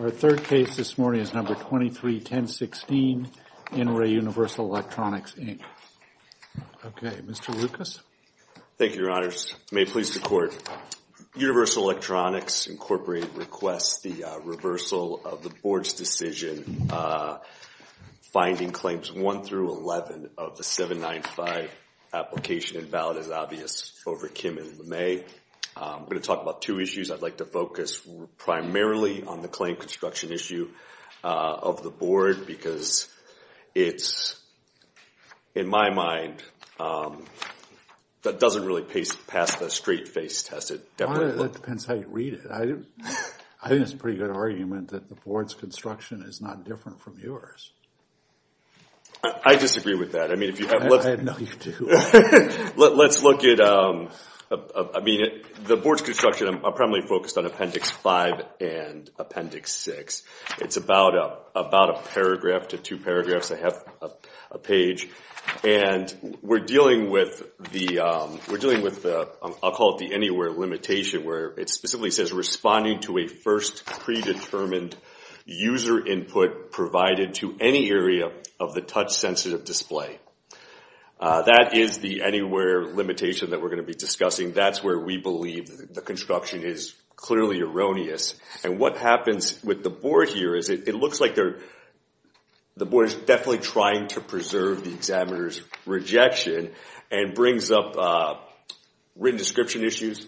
Our third case this morning is No. 23-1016, N. Ray Universal Electronics, Inc. Okay. Mr. Lucas? Thank you, Your Honors. May it please the Court, Universal Electronics Incorporated requests the reversal of the Board's decision finding Claims 1 through 11 of the 795 application and ballot as obvious over Kim and LeMay. I'm going to talk about two issues. I'd like to focus primarily on the claim construction issue of the Board because it's, in my mind, that doesn't really pass the straight-face test. It definitely doesn't. Well, that depends how you read it. I think it's a pretty good argument that the Board's construction is not different from yours. I disagree with that. I mean, if you have... No, you do. Let's look at... I mean, the Board's construction, I'm primarily focused on Appendix 5 and Appendix 6. It's about a paragraph to two paragraphs, a page, and we're dealing with the, I'll call it the Anywhere Limitation, where it specifically says, responding to a first predetermined user input provided to any area of the touch-sensitive display. That is the Anywhere Limitation that we're going to be discussing. That's where we believe the construction is clearly erroneous. What happens with the Board here is it looks like the Board is definitely trying to preserve the examiner's rejection and brings up written description issues,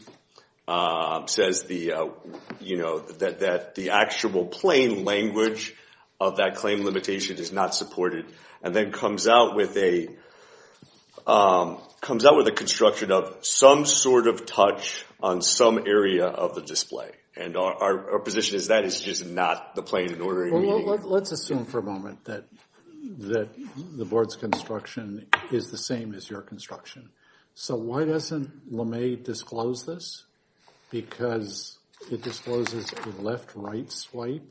says that the actual plain language of that claim limitation is not supported, and then comes out with a construction of some sort of touch on some area of the display. And our position is that is just not the plain and ordinary meaning. Let's assume for a moment that the Board's construction is the same as your construction. So why doesn't LeMay disclose this? Because it discloses a left-right swipe,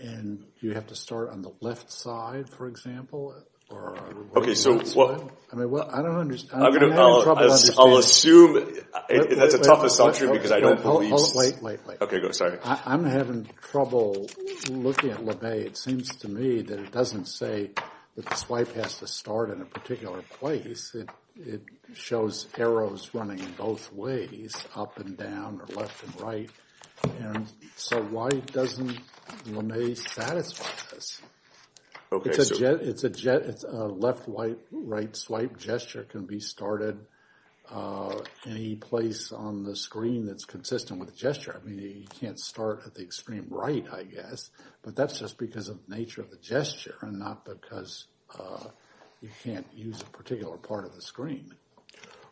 and you have to start on the left side, for example, or a right-left swipe. Okay, so... I mean, I don't understand. I'm having trouble understanding. I'll assume, that's a tough assumption because I don't believe... Wait, wait, wait. Okay, go ahead. Sorry. I'm having trouble looking at LeMay. It seems to me that it doesn't say that the swipe has to start in a particular place. It shows arrows running in both ways, up and down or left and right. And so why doesn't LeMay satisfy this? Okay, so... It's a left-right swipe gesture. It can be started any place on the screen that's consistent with the gesture. I mean, you can't start at the extreme right, I guess. But that's just because of the nature of the gesture, and not because you can't use a particular part of the screen.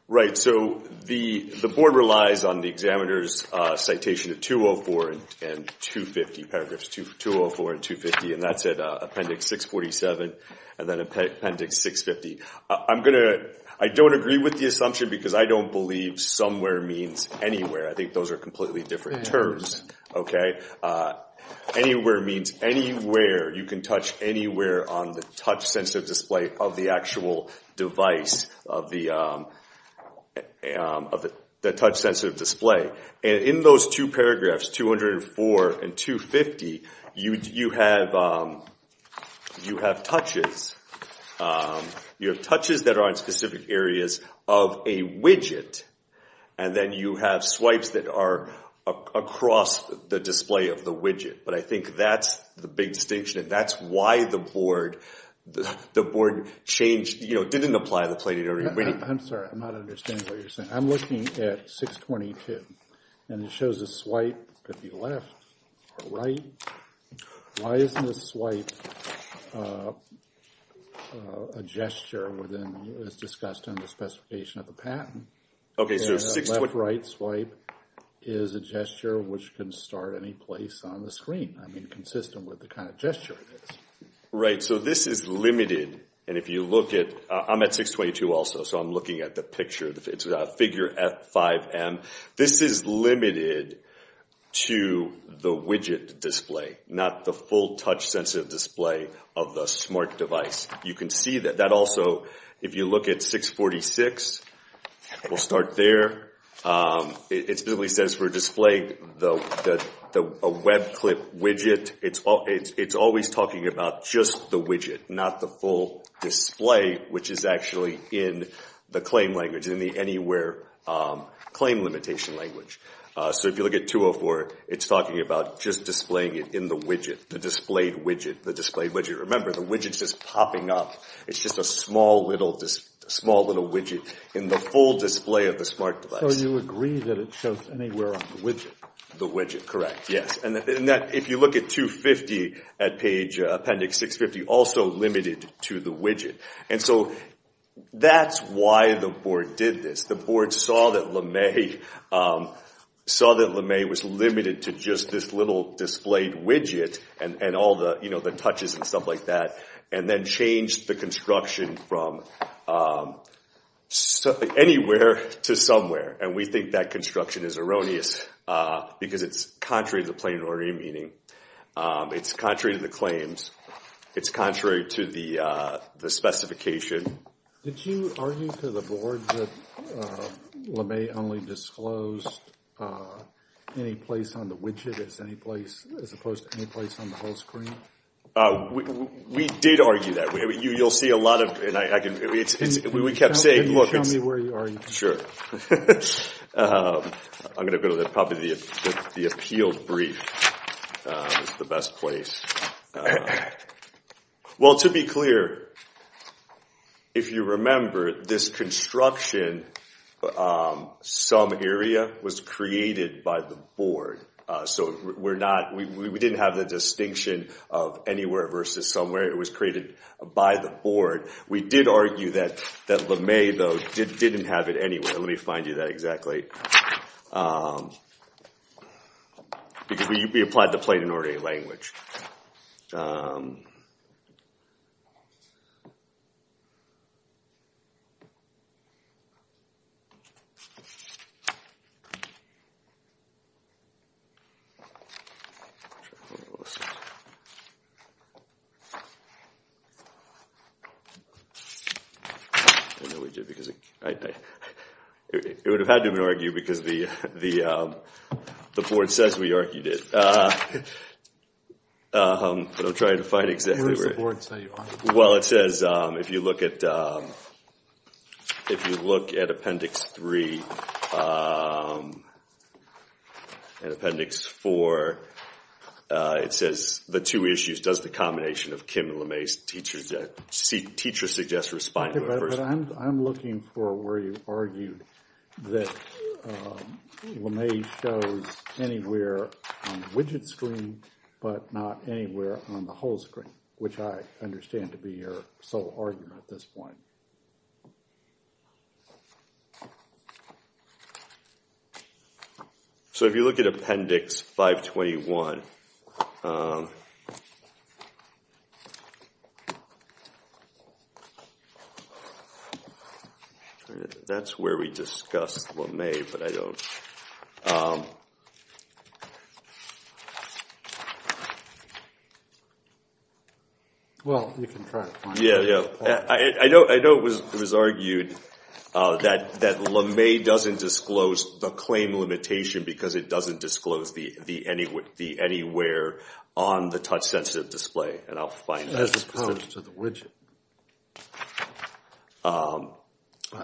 Right, so the Board relies on the examiner's citation of 204 and 250, paragraphs 204 and 250, and that's at Appendix 647 and then Appendix 650. I'm going to... I don't agree with the assumption because I don't believe somewhere means anywhere. I think those are completely different terms, okay? Anywhere means anywhere. You can touch anywhere on the touch-sensitive display of the actual device, of the touch-sensitive display. And in those two paragraphs, 204 and 250, you have touches. You have touches that are on specific areas of a widget, and then you have swipes that are across the display of the widget. But I think that's the big distinction, and that's why the Board changed, you know, didn't apply the plated area. I'm sorry, I'm not understanding what you're saying. I'm looking at 622, and it shows a swipe could be left or right. Why isn't the swipe a gesture as discussed in the specification of the patent? Okay, so 622... Left-right swipe is a gesture which can start any place on the screen, I mean consistent with the kind of gesture it is. Right, so this is limited, and if you look at... I'm at 622 also, so I'm looking at the picture. It's figure F5M. This is limited to the widget display, not the full touch-sensitive display of the smart device. You can see that. That also, if you look at 646, we'll start there. It specifically says for display, a web clip widget. It's always talking about just the widget, not the full display, which is actually in the claim language, in the anywhere claim limitation language. So if you look at 204, it's talking about just displaying it in the widget, the displayed widget, the displayed widget. Remember, the widget's just popping up. It's just a small little widget in the full display of the smart device. So you agree that it shows anywhere on the widget? The widget, correct, yes. If you look at 250 at page appendix 650, also limited to the widget. And so that's why the board did this. The board saw that LeMay was limited to just this little displayed widget and all the touches and stuff like that, and then changed the construction from anywhere to somewhere. And we think that construction is erroneous, because it's contrary to the plain and ordinary meaning. It's contrary to the claims. It's contrary to the specification. Did you argue to the board that LeMay only disclosed any place on the widget as opposed to any place on the whole screen? We did argue that. Can you show me where you are? Sure. I'm going to go to probably the appealed brief. It's the best place. Well, to be clear, if you remember, this construction, some area, was created by the board. So we didn't have the distinction of anywhere versus somewhere. It was created by the board. We did argue that LeMay, though, didn't have it anywhere. Let me find you that exactly, because we applied the plain and ordinary language. I know we did, because it would have had to have been argued, because the board says we argued it. But I'm trying to find exactly where it is. Where does the board say you are? Well, it says, if you look at Appendix 3 and Appendix 4, it says the two issues. Does the combination of Kim and LeMay's teachers suggest responding to it? I'm looking for where you argued that LeMay shows anywhere on the widget screen but not anywhere on the whole screen, which I understand to be your sole argument at this point. So if you look at Appendix 521, that's where we discussed LeMay, but I don't. Well, you can try to find it. I know it was argued that LeMay doesn't disclose the claim limitation because it doesn't disclose the anywhere on the touch-sensitive display, and I'll find that.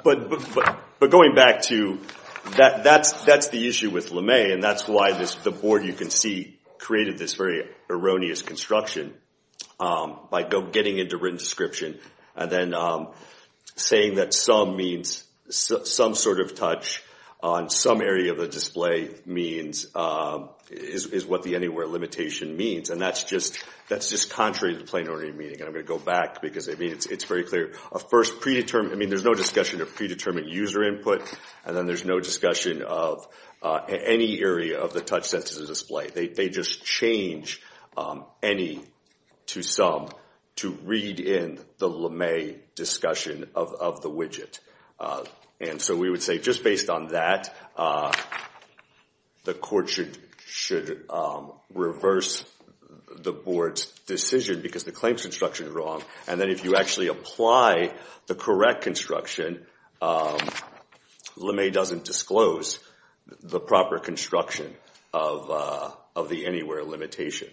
But going back to that, that's the issue with LeMay, and that's why the board, you can see, created this very erroneous construction by getting into written description and then saying that some sort of touch on some area of the display is what the anywhere limitation means, and that's just contrary to the plain ordinary meaning. I'm going to go back because it's very clear. There's no discussion of predetermined user input, and then there's no discussion of any area of the touch-sensitive display. They just change any to some to read in the LeMay discussion of the widget. And so we would say just based on that, the court should reverse the board's decision because the claims construction is wrong, and then if you actually apply the correct construction, LeMay doesn't disclose the proper construction of the anywhere limitation.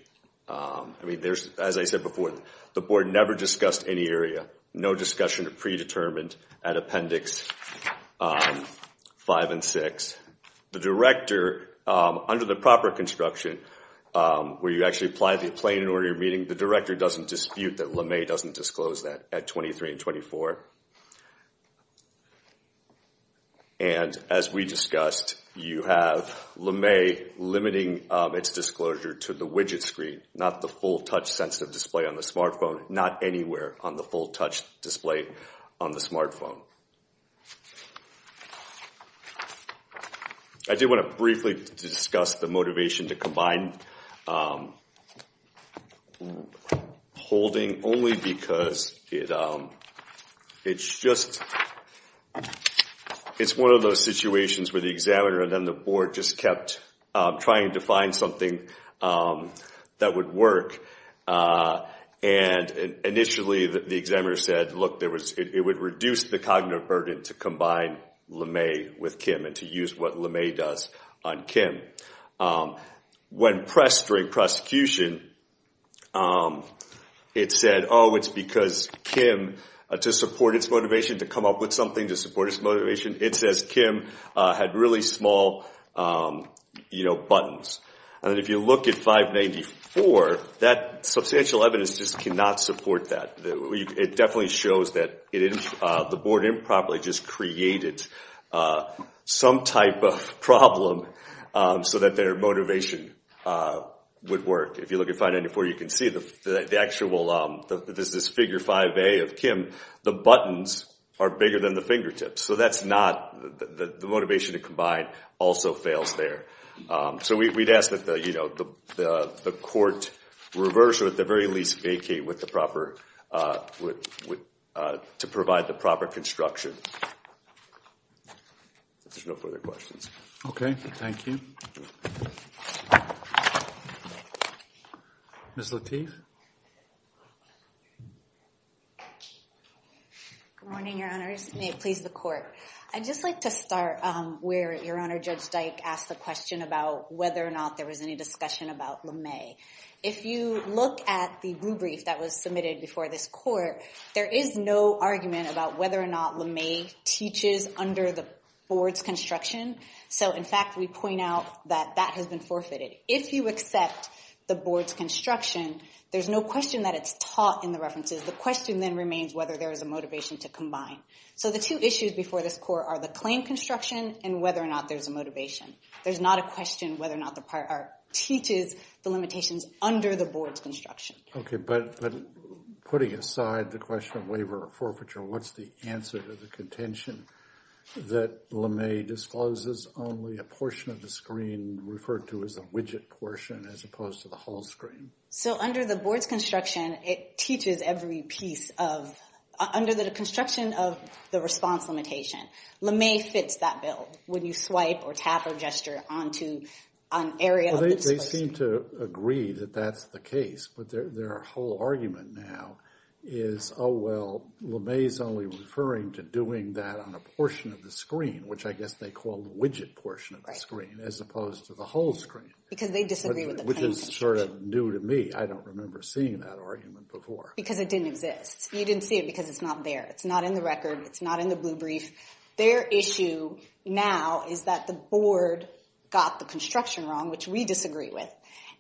I mean, as I said before, the board never discussed any area, no discussion of predetermined at Appendix 5 and 6. The director, under the proper construction, where you actually apply the plain ordinary meaning, the director doesn't dispute that LeMay doesn't disclose that at 23 and 24. And as we discussed, you have LeMay limiting its disclosure to the widget screen, not the full touch-sensitive display on the smartphone, not anywhere on the full touch display on the smartphone. I do want to briefly discuss the motivation to combine holding only because it's just one of those situations where the examiner and then the board just kept trying to find something that would work. And initially the examiner said, look, it would reduce the cognitive burden to combine LeMay with Kim and to use what LeMay does on Kim. When pressed during prosecution, it said, oh, it's because Kim, to support its motivation, to come up with something to support its motivation, it says Kim had really small buttons. And if you look at 594, that substantial evidence just cannot support that. It definitely shows that the board improperly just created some type of problem so that their motivation would work. If you look at 594, you can see the actual, there's this figure 5A of Kim, the buttons are bigger than the fingertips. So that's not, the motivation to combine also fails there. So we'd ask that the court reverse or at the very least vacate with the proper, to provide the proper construction. If there's no further questions. Okay, thank you. Ms. Lateef. Good morning, Your Honors. May it please the court. I'd just like to start where Your Honor, Judge Dyke asked the question about whether or not there was any discussion about LeMay. If you look at the rubric that was submitted before this court, there is no argument about whether or not LeMay teaches under the board's construction. So in fact, we point out that that has been forfeited. If you accept the board's construction, there's no question that it's taught in the references. The question then remains whether there is a motivation to combine. So the two issues before this court are the claim construction and whether or not there's a motivation. There's not a question whether or not the part teaches the limitations under the board's construction. Okay, but putting aside the question of waiver or forfeiture, what's the answer to the contention that LeMay discloses only a portion of the screen referred to as a widget portion as opposed to the whole screen? So under the board's construction, it teaches every piece of, under the construction of the response limitation, LeMay fits that bill. When you swipe or tap or gesture onto an area of the disclosure. They seem to agree that that's the case, but their whole argument now is, oh, well, LeMay is only referring to doing that on a portion of the screen, which I guess they call the widget portion of the screen as opposed to the whole screen. Because they disagree with the claim construction. Which is sort of new to me. I don't remember seeing that argument before. Because it didn't exist. You didn't see it because it's not there. It's not in the record. It's not in the blue brief. Their issue now is that the board got the construction wrong, which we disagree with.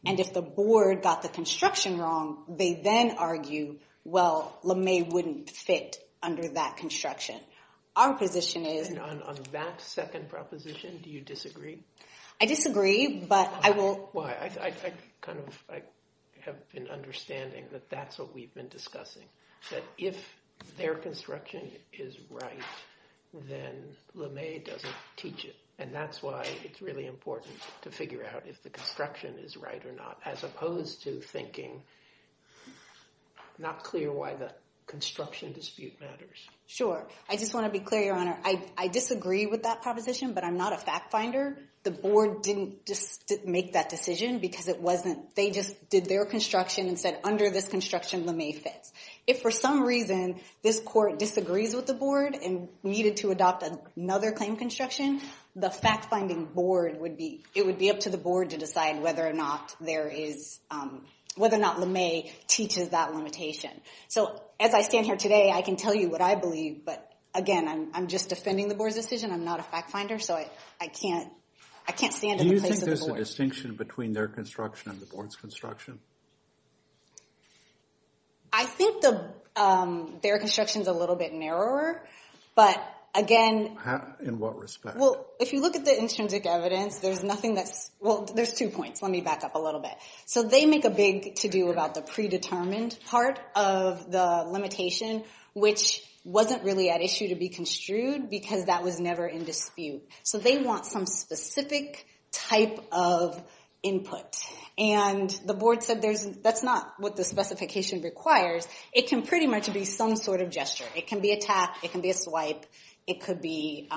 And if the board got the construction wrong, they then argue, well, LeMay wouldn't fit under that construction. Our position is. On that second proposition, do you disagree? I disagree, but I will. Well, I kind of have an understanding that that's what we've been discussing. That if their construction is right, then LeMay doesn't teach it. And that's why it's really important to figure out if the construction is right or not. As opposed to thinking, not clear why the construction dispute matters. Sure. I just want to be clear, Your Honor. I disagree with that proposition, but I'm not a fact finder. The board didn't make that decision because it wasn't. They just did their construction and said, under this construction, LeMay fits. If for some reason this court disagrees with the board and needed to adopt another claim construction, the fact finding board would be. It would be up to the board to decide whether or not LeMay teaches that limitation. So as I stand here today, I can tell you what I believe. But again, I'm just defending the board's decision. I'm not a fact finder, so I can't stand in the place of the board. Do you think there's a distinction between their construction and the board's construction? I think their construction is a little bit narrower, but again. In what respect? Well, if you look at the intrinsic evidence, there's nothing that's. Well, there's two points. Let me back up a little bit. So they make a big to-do about the predetermined part of the limitation, which wasn't really at issue to be construed because that was never in dispute. So they want some specific type of input. And the board said that's not what the specification requires. It can pretty much be some sort of gesture. It can be a tap. It can be a swipe. It could be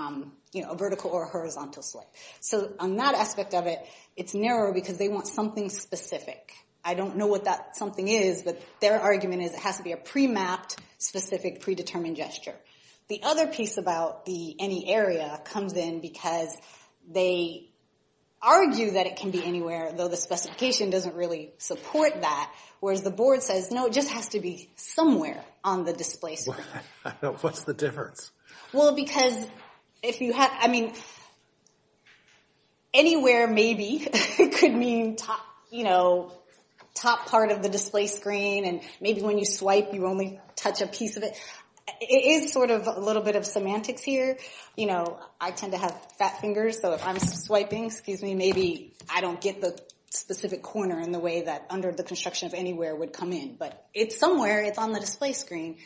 a vertical or a horizontal swipe. So on that aspect of it, it's narrower because they want something specific. I don't know what that something is, but their argument is it has to be a pre-mapped, specific, predetermined gesture. The other piece about the any area comes in because they argue that it can be anywhere, though the specification doesn't really support that. Whereas the board says, no, it just has to be somewhere on the display screen. What's the difference? Well, because if you have, I mean, anywhere maybe could mean top part of the display screen. And maybe when you swipe, you only touch a piece of it. It is sort of a little bit of semantics here. You know, I tend to have fat fingers. So if I'm swiping, maybe I don't get the specific corner in the way that under the construction of anywhere would come in. But it's somewhere. It's on the display screen.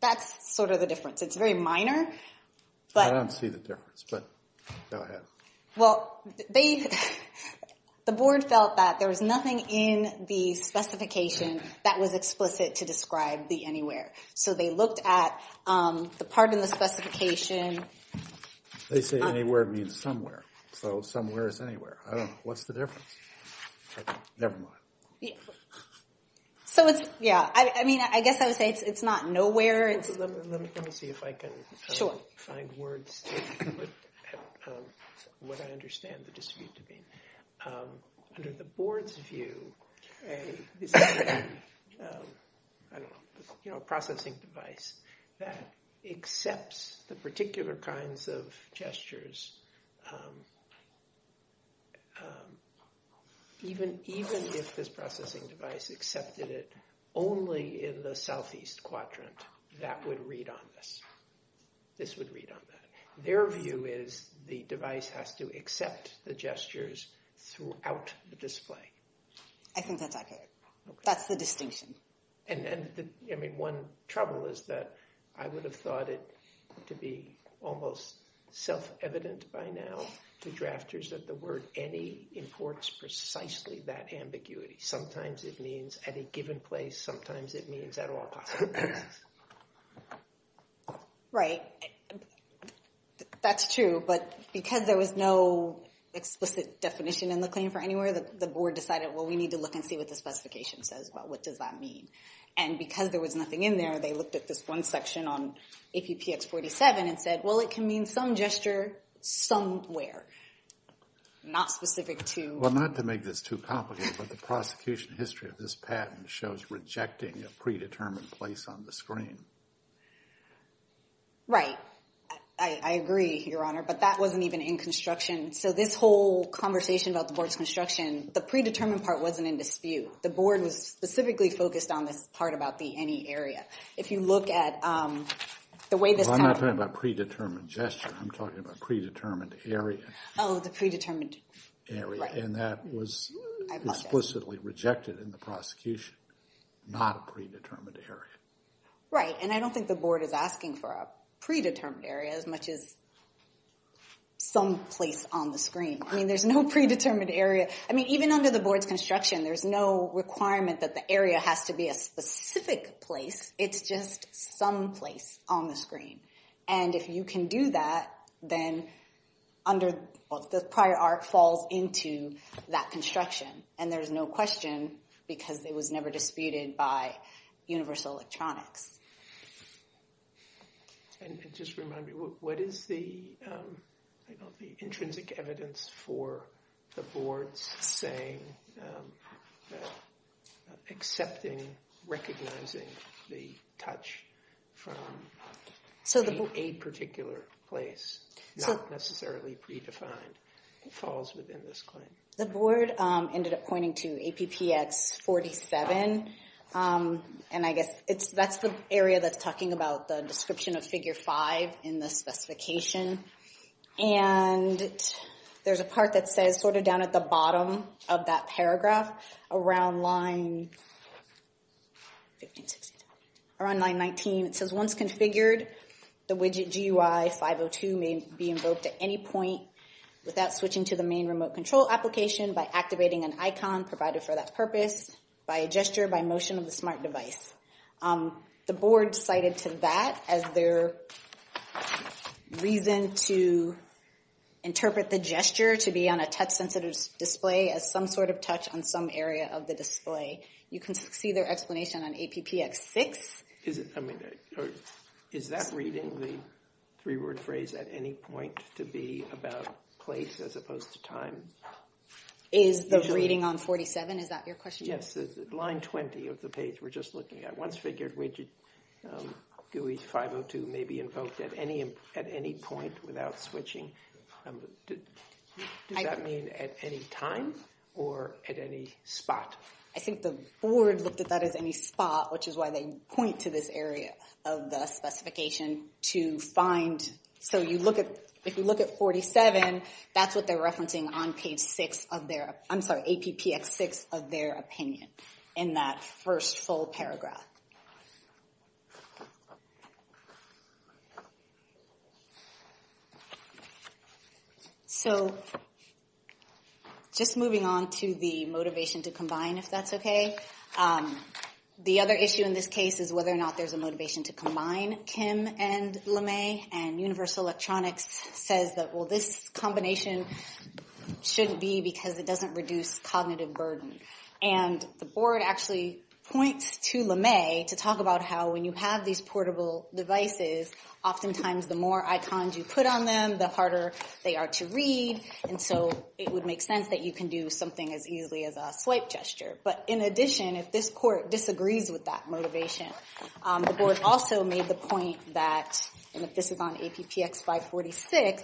That's sort of the difference. It's very minor. I don't see the difference, but go ahead. Well, the board felt that there was nothing in the specification that was explicit to describe the anywhere. So they looked at the part in the specification. They say anywhere means somewhere. So somewhere is anywhere. I don't know. What's the difference? Never mind. So it's, yeah. I mean, I guess I would say it's not nowhere. Let me see if I can find words to help what I understand the dispute to be. Under the board's view, you know, processing device that accepts the particular kinds of gestures. Even even if this processing device accepted it only in the southeast quadrant, that would read on this. This would read on that. Their view is the device has to accept the gestures throughout the display. I think that's OK. That's the distinction. And I mean, one trouble is that I would have thought it to be almost self-evident by now to drafters that the word any imports precisely that ambiguity. Sometimes it means at a given place. Sometimes it means at all. Right. That's true. But because there was no explicit definition in the claim for anywhere, the board decided, well, we need to look and see what the specification says. Well, what does that mean? And because there was nothing in there, they looked at this one section on APX 47 and said, well, it can mean some gesture somewhere. Not specific to. Well, not to make this too complicated, but the prosecution history of this patent shows rejecting a predetermined place on the screen. Right. I agree, Your Honor, but that wasn't even in construction. So this whole conversation about the board's construction, the predetermined part wasn't in dispute. The board was specifically focused on this part about the any area. If you look at the way this. I'm not talking about predetermined gesture. I'm talking about predetermined area. Oh, the predetermined area. And that was explicitly rejected in the prosecution, not a predetermined area. Right. And I don't think the board is asking for a predetermined area as much as some place on the screen. I mean, there's no predetermined area. I mean, even under the board's construction, there's no requirement that the area has to be a specific place. It's just some place on the screen. And if you can do that, then under the prior art falls into that construction. And there's no question because it was never disputed by Universal Electronics. And just remind me, what is the intrinsic evidence for the board's saying that accepting, recognizing the touch from a particular place, not necessarily predefined, falls within this claim? The board ended up pointing to APPX 47. And I guess that's the area that's talking about the description of figure five in the specification. And there's a part that says sort of down at the bottom of that paragraph around line 15, 16, around line 19. And it says once configured, the widget GUI 502 may be invoked at any point without switching to the main remote control application by activating an icon provided for that purpose, by a gesture, by motion of the smart device. The board cited to that as their reason to interpret the gesture to be on a touch sensitive display as some sort of touch on some area of the display. You can see their explanation on APPX 6. Is that reading the three word phrase at any point to be about place as opposed to time? Is the reading on 47, is that your question? Yes, line 20 of the page we're just looking at. Once figured, widget GUI 502 may be invoked at any point without switching. Does that mean at any time or at any spot? I think the board looked at that as any spot, which is why they point to this area of the specification to find. So if you look at 47, that's what they're referencing on page six of their, I'm sorry, APPX 6 of their opinion in that first full paragraph. So just moving on to the motivation to combine, if that's okay. The other issue in this case is whether or not there's a motivation to combine Kim and LeMay and Universal Electronics says that, well, this combination shouldn't be because it doesn't reduce cognitive burden. And the board actually points to LeMay to talk about how when you have these portable devices, oftentimes the more icons you put on them, the harder they are to read. And so it would make sense that you can do something as easily as a swipe gesture. But in addition, if this court disagrees with that motivation, the board also made the point that, and if this is on APPX 546,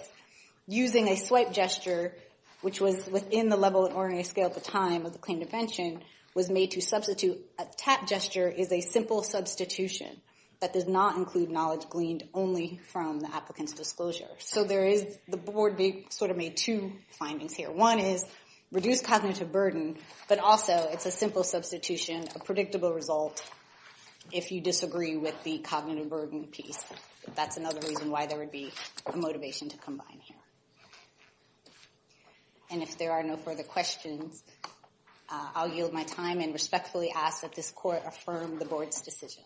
using a swipe gesture, which was within the level of ORA scale at the time of the claim to pension, was made to substitute. A tap gesture is a simple substitution that does not include knowledge gleaned only from the applicant's disclosure. So the board sort of made two findings here. One is reduce cognitive burden, but also it's a simple substitution, a predictable result if you disagree with the cognitive burden piece. That's another reason why there would be a motivation to combine here. And if there are no further questions, I'll yield my time and respectfully ask that this court affirm the board's decision.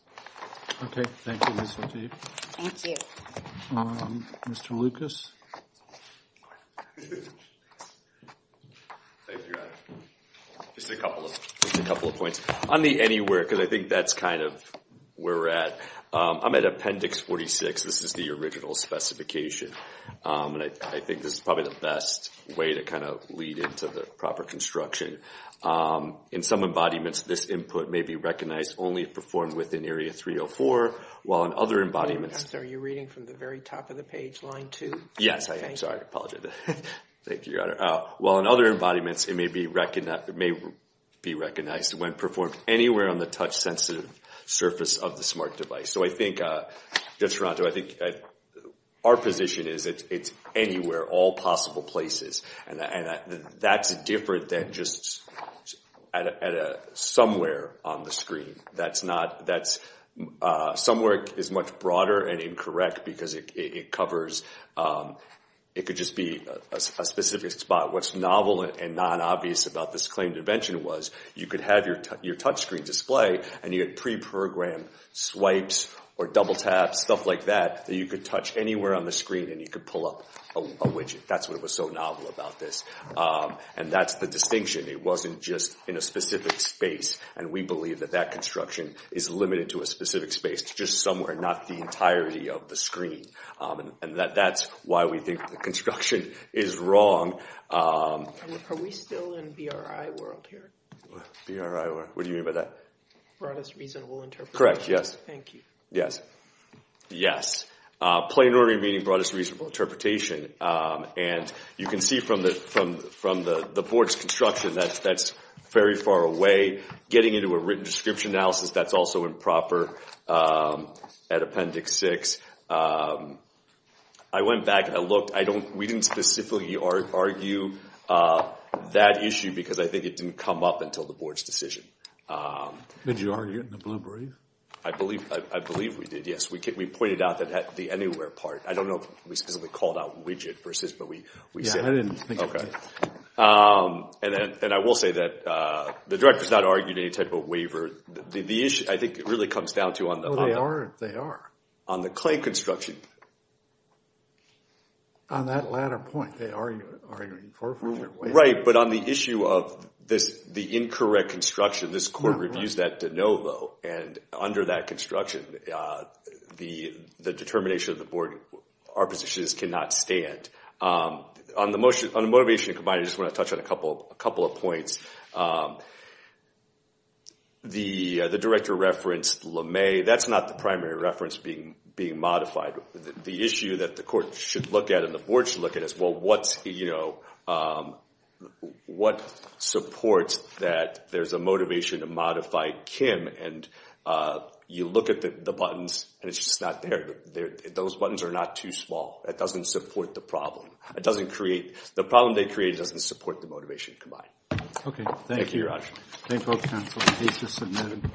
Okay, thank you, Ms. Lateef. Thank you. Mr. Lucas? Thank you, Adam. Just a couple of points. On the anywhere, because I think that's kind of where we're at, I'm at Appendix 46. This is the original specification, and I think this is probably the best way to kind of lead into the proper construction. In some embodiments, this input may be recognized only if performed within Area 304, while in other embodiments— Mr. Lucas, are you reading from the very top of the page, line two? Yes, I am. Sorry, I apologize. Thank you, Your Honor. While in other embodiments, it may be recognized when performed anywhere on the touch-sensitive surface of the smart device. So I think, Judge Toronto, I think our position is it's anywhere, all possible places. And that's different than just somewhere on the screen. That's not—somewhere is much broader and incorrect because it covers—it could just be a specific spot. What's novel and non-obvious about this claimed invention was you could have your touchscreen display, and you had pre-programmed swipes or double-taps, stuff like that, that you could touch anywhere on the screen, and you could pull up a widget. That's what was so novel about this. And that's the distinction. It wasn't just in a specific space. And we believe that that construction is limited to a specific space, just somewhere, not the entirety of the screen. And that's why we think the construction is wrong. Are we still in BRI world here? BRI world? What do you mean by that? Broadest Reasonable Interpretation. Correct, yes. Thank you. Yes. Yes. Plain Order of Meaning, Broadest Reasonable Interpretation. And you can see from the board's construction that that's very far away. Getting into a written description analysis, that's also improper at Appendix 6. I went back and I looked. We didn't specifically argue that issue because I think it didn't come up until the board's decision. Did you argue it in the Blue Brief? I believe we did, yes. We pointed out the anywhere part. I don't know if we specifically called out widget versus, but we said it. Yes, I didn't think of it. Okay. And I will say that the director has not argued any type of waiver. The issue, I think, really comes down to on the claim construction. On that latter point, they are arguing for a waiver. Right, but on the issue of the incorrect construction, this court reviews that de novo. And under that construction, the determination of the board, our position is cannot stand. On the motivation, I just want to touch on a couple of points. The director referenced LeMay. That's not the primary reference being modified. The issue that the court should look at and the board should look at is, well, what supports that there's a motivation to modify Kim and you look at the buttons and it's just not there. Those buttons are not too small. That doesn't support the problem. It doesn't create, the problem they create doesn't support the motivation combined. Okay, thank you. Thank you, Your Honor. Thank you, both counsel. Case is submitted.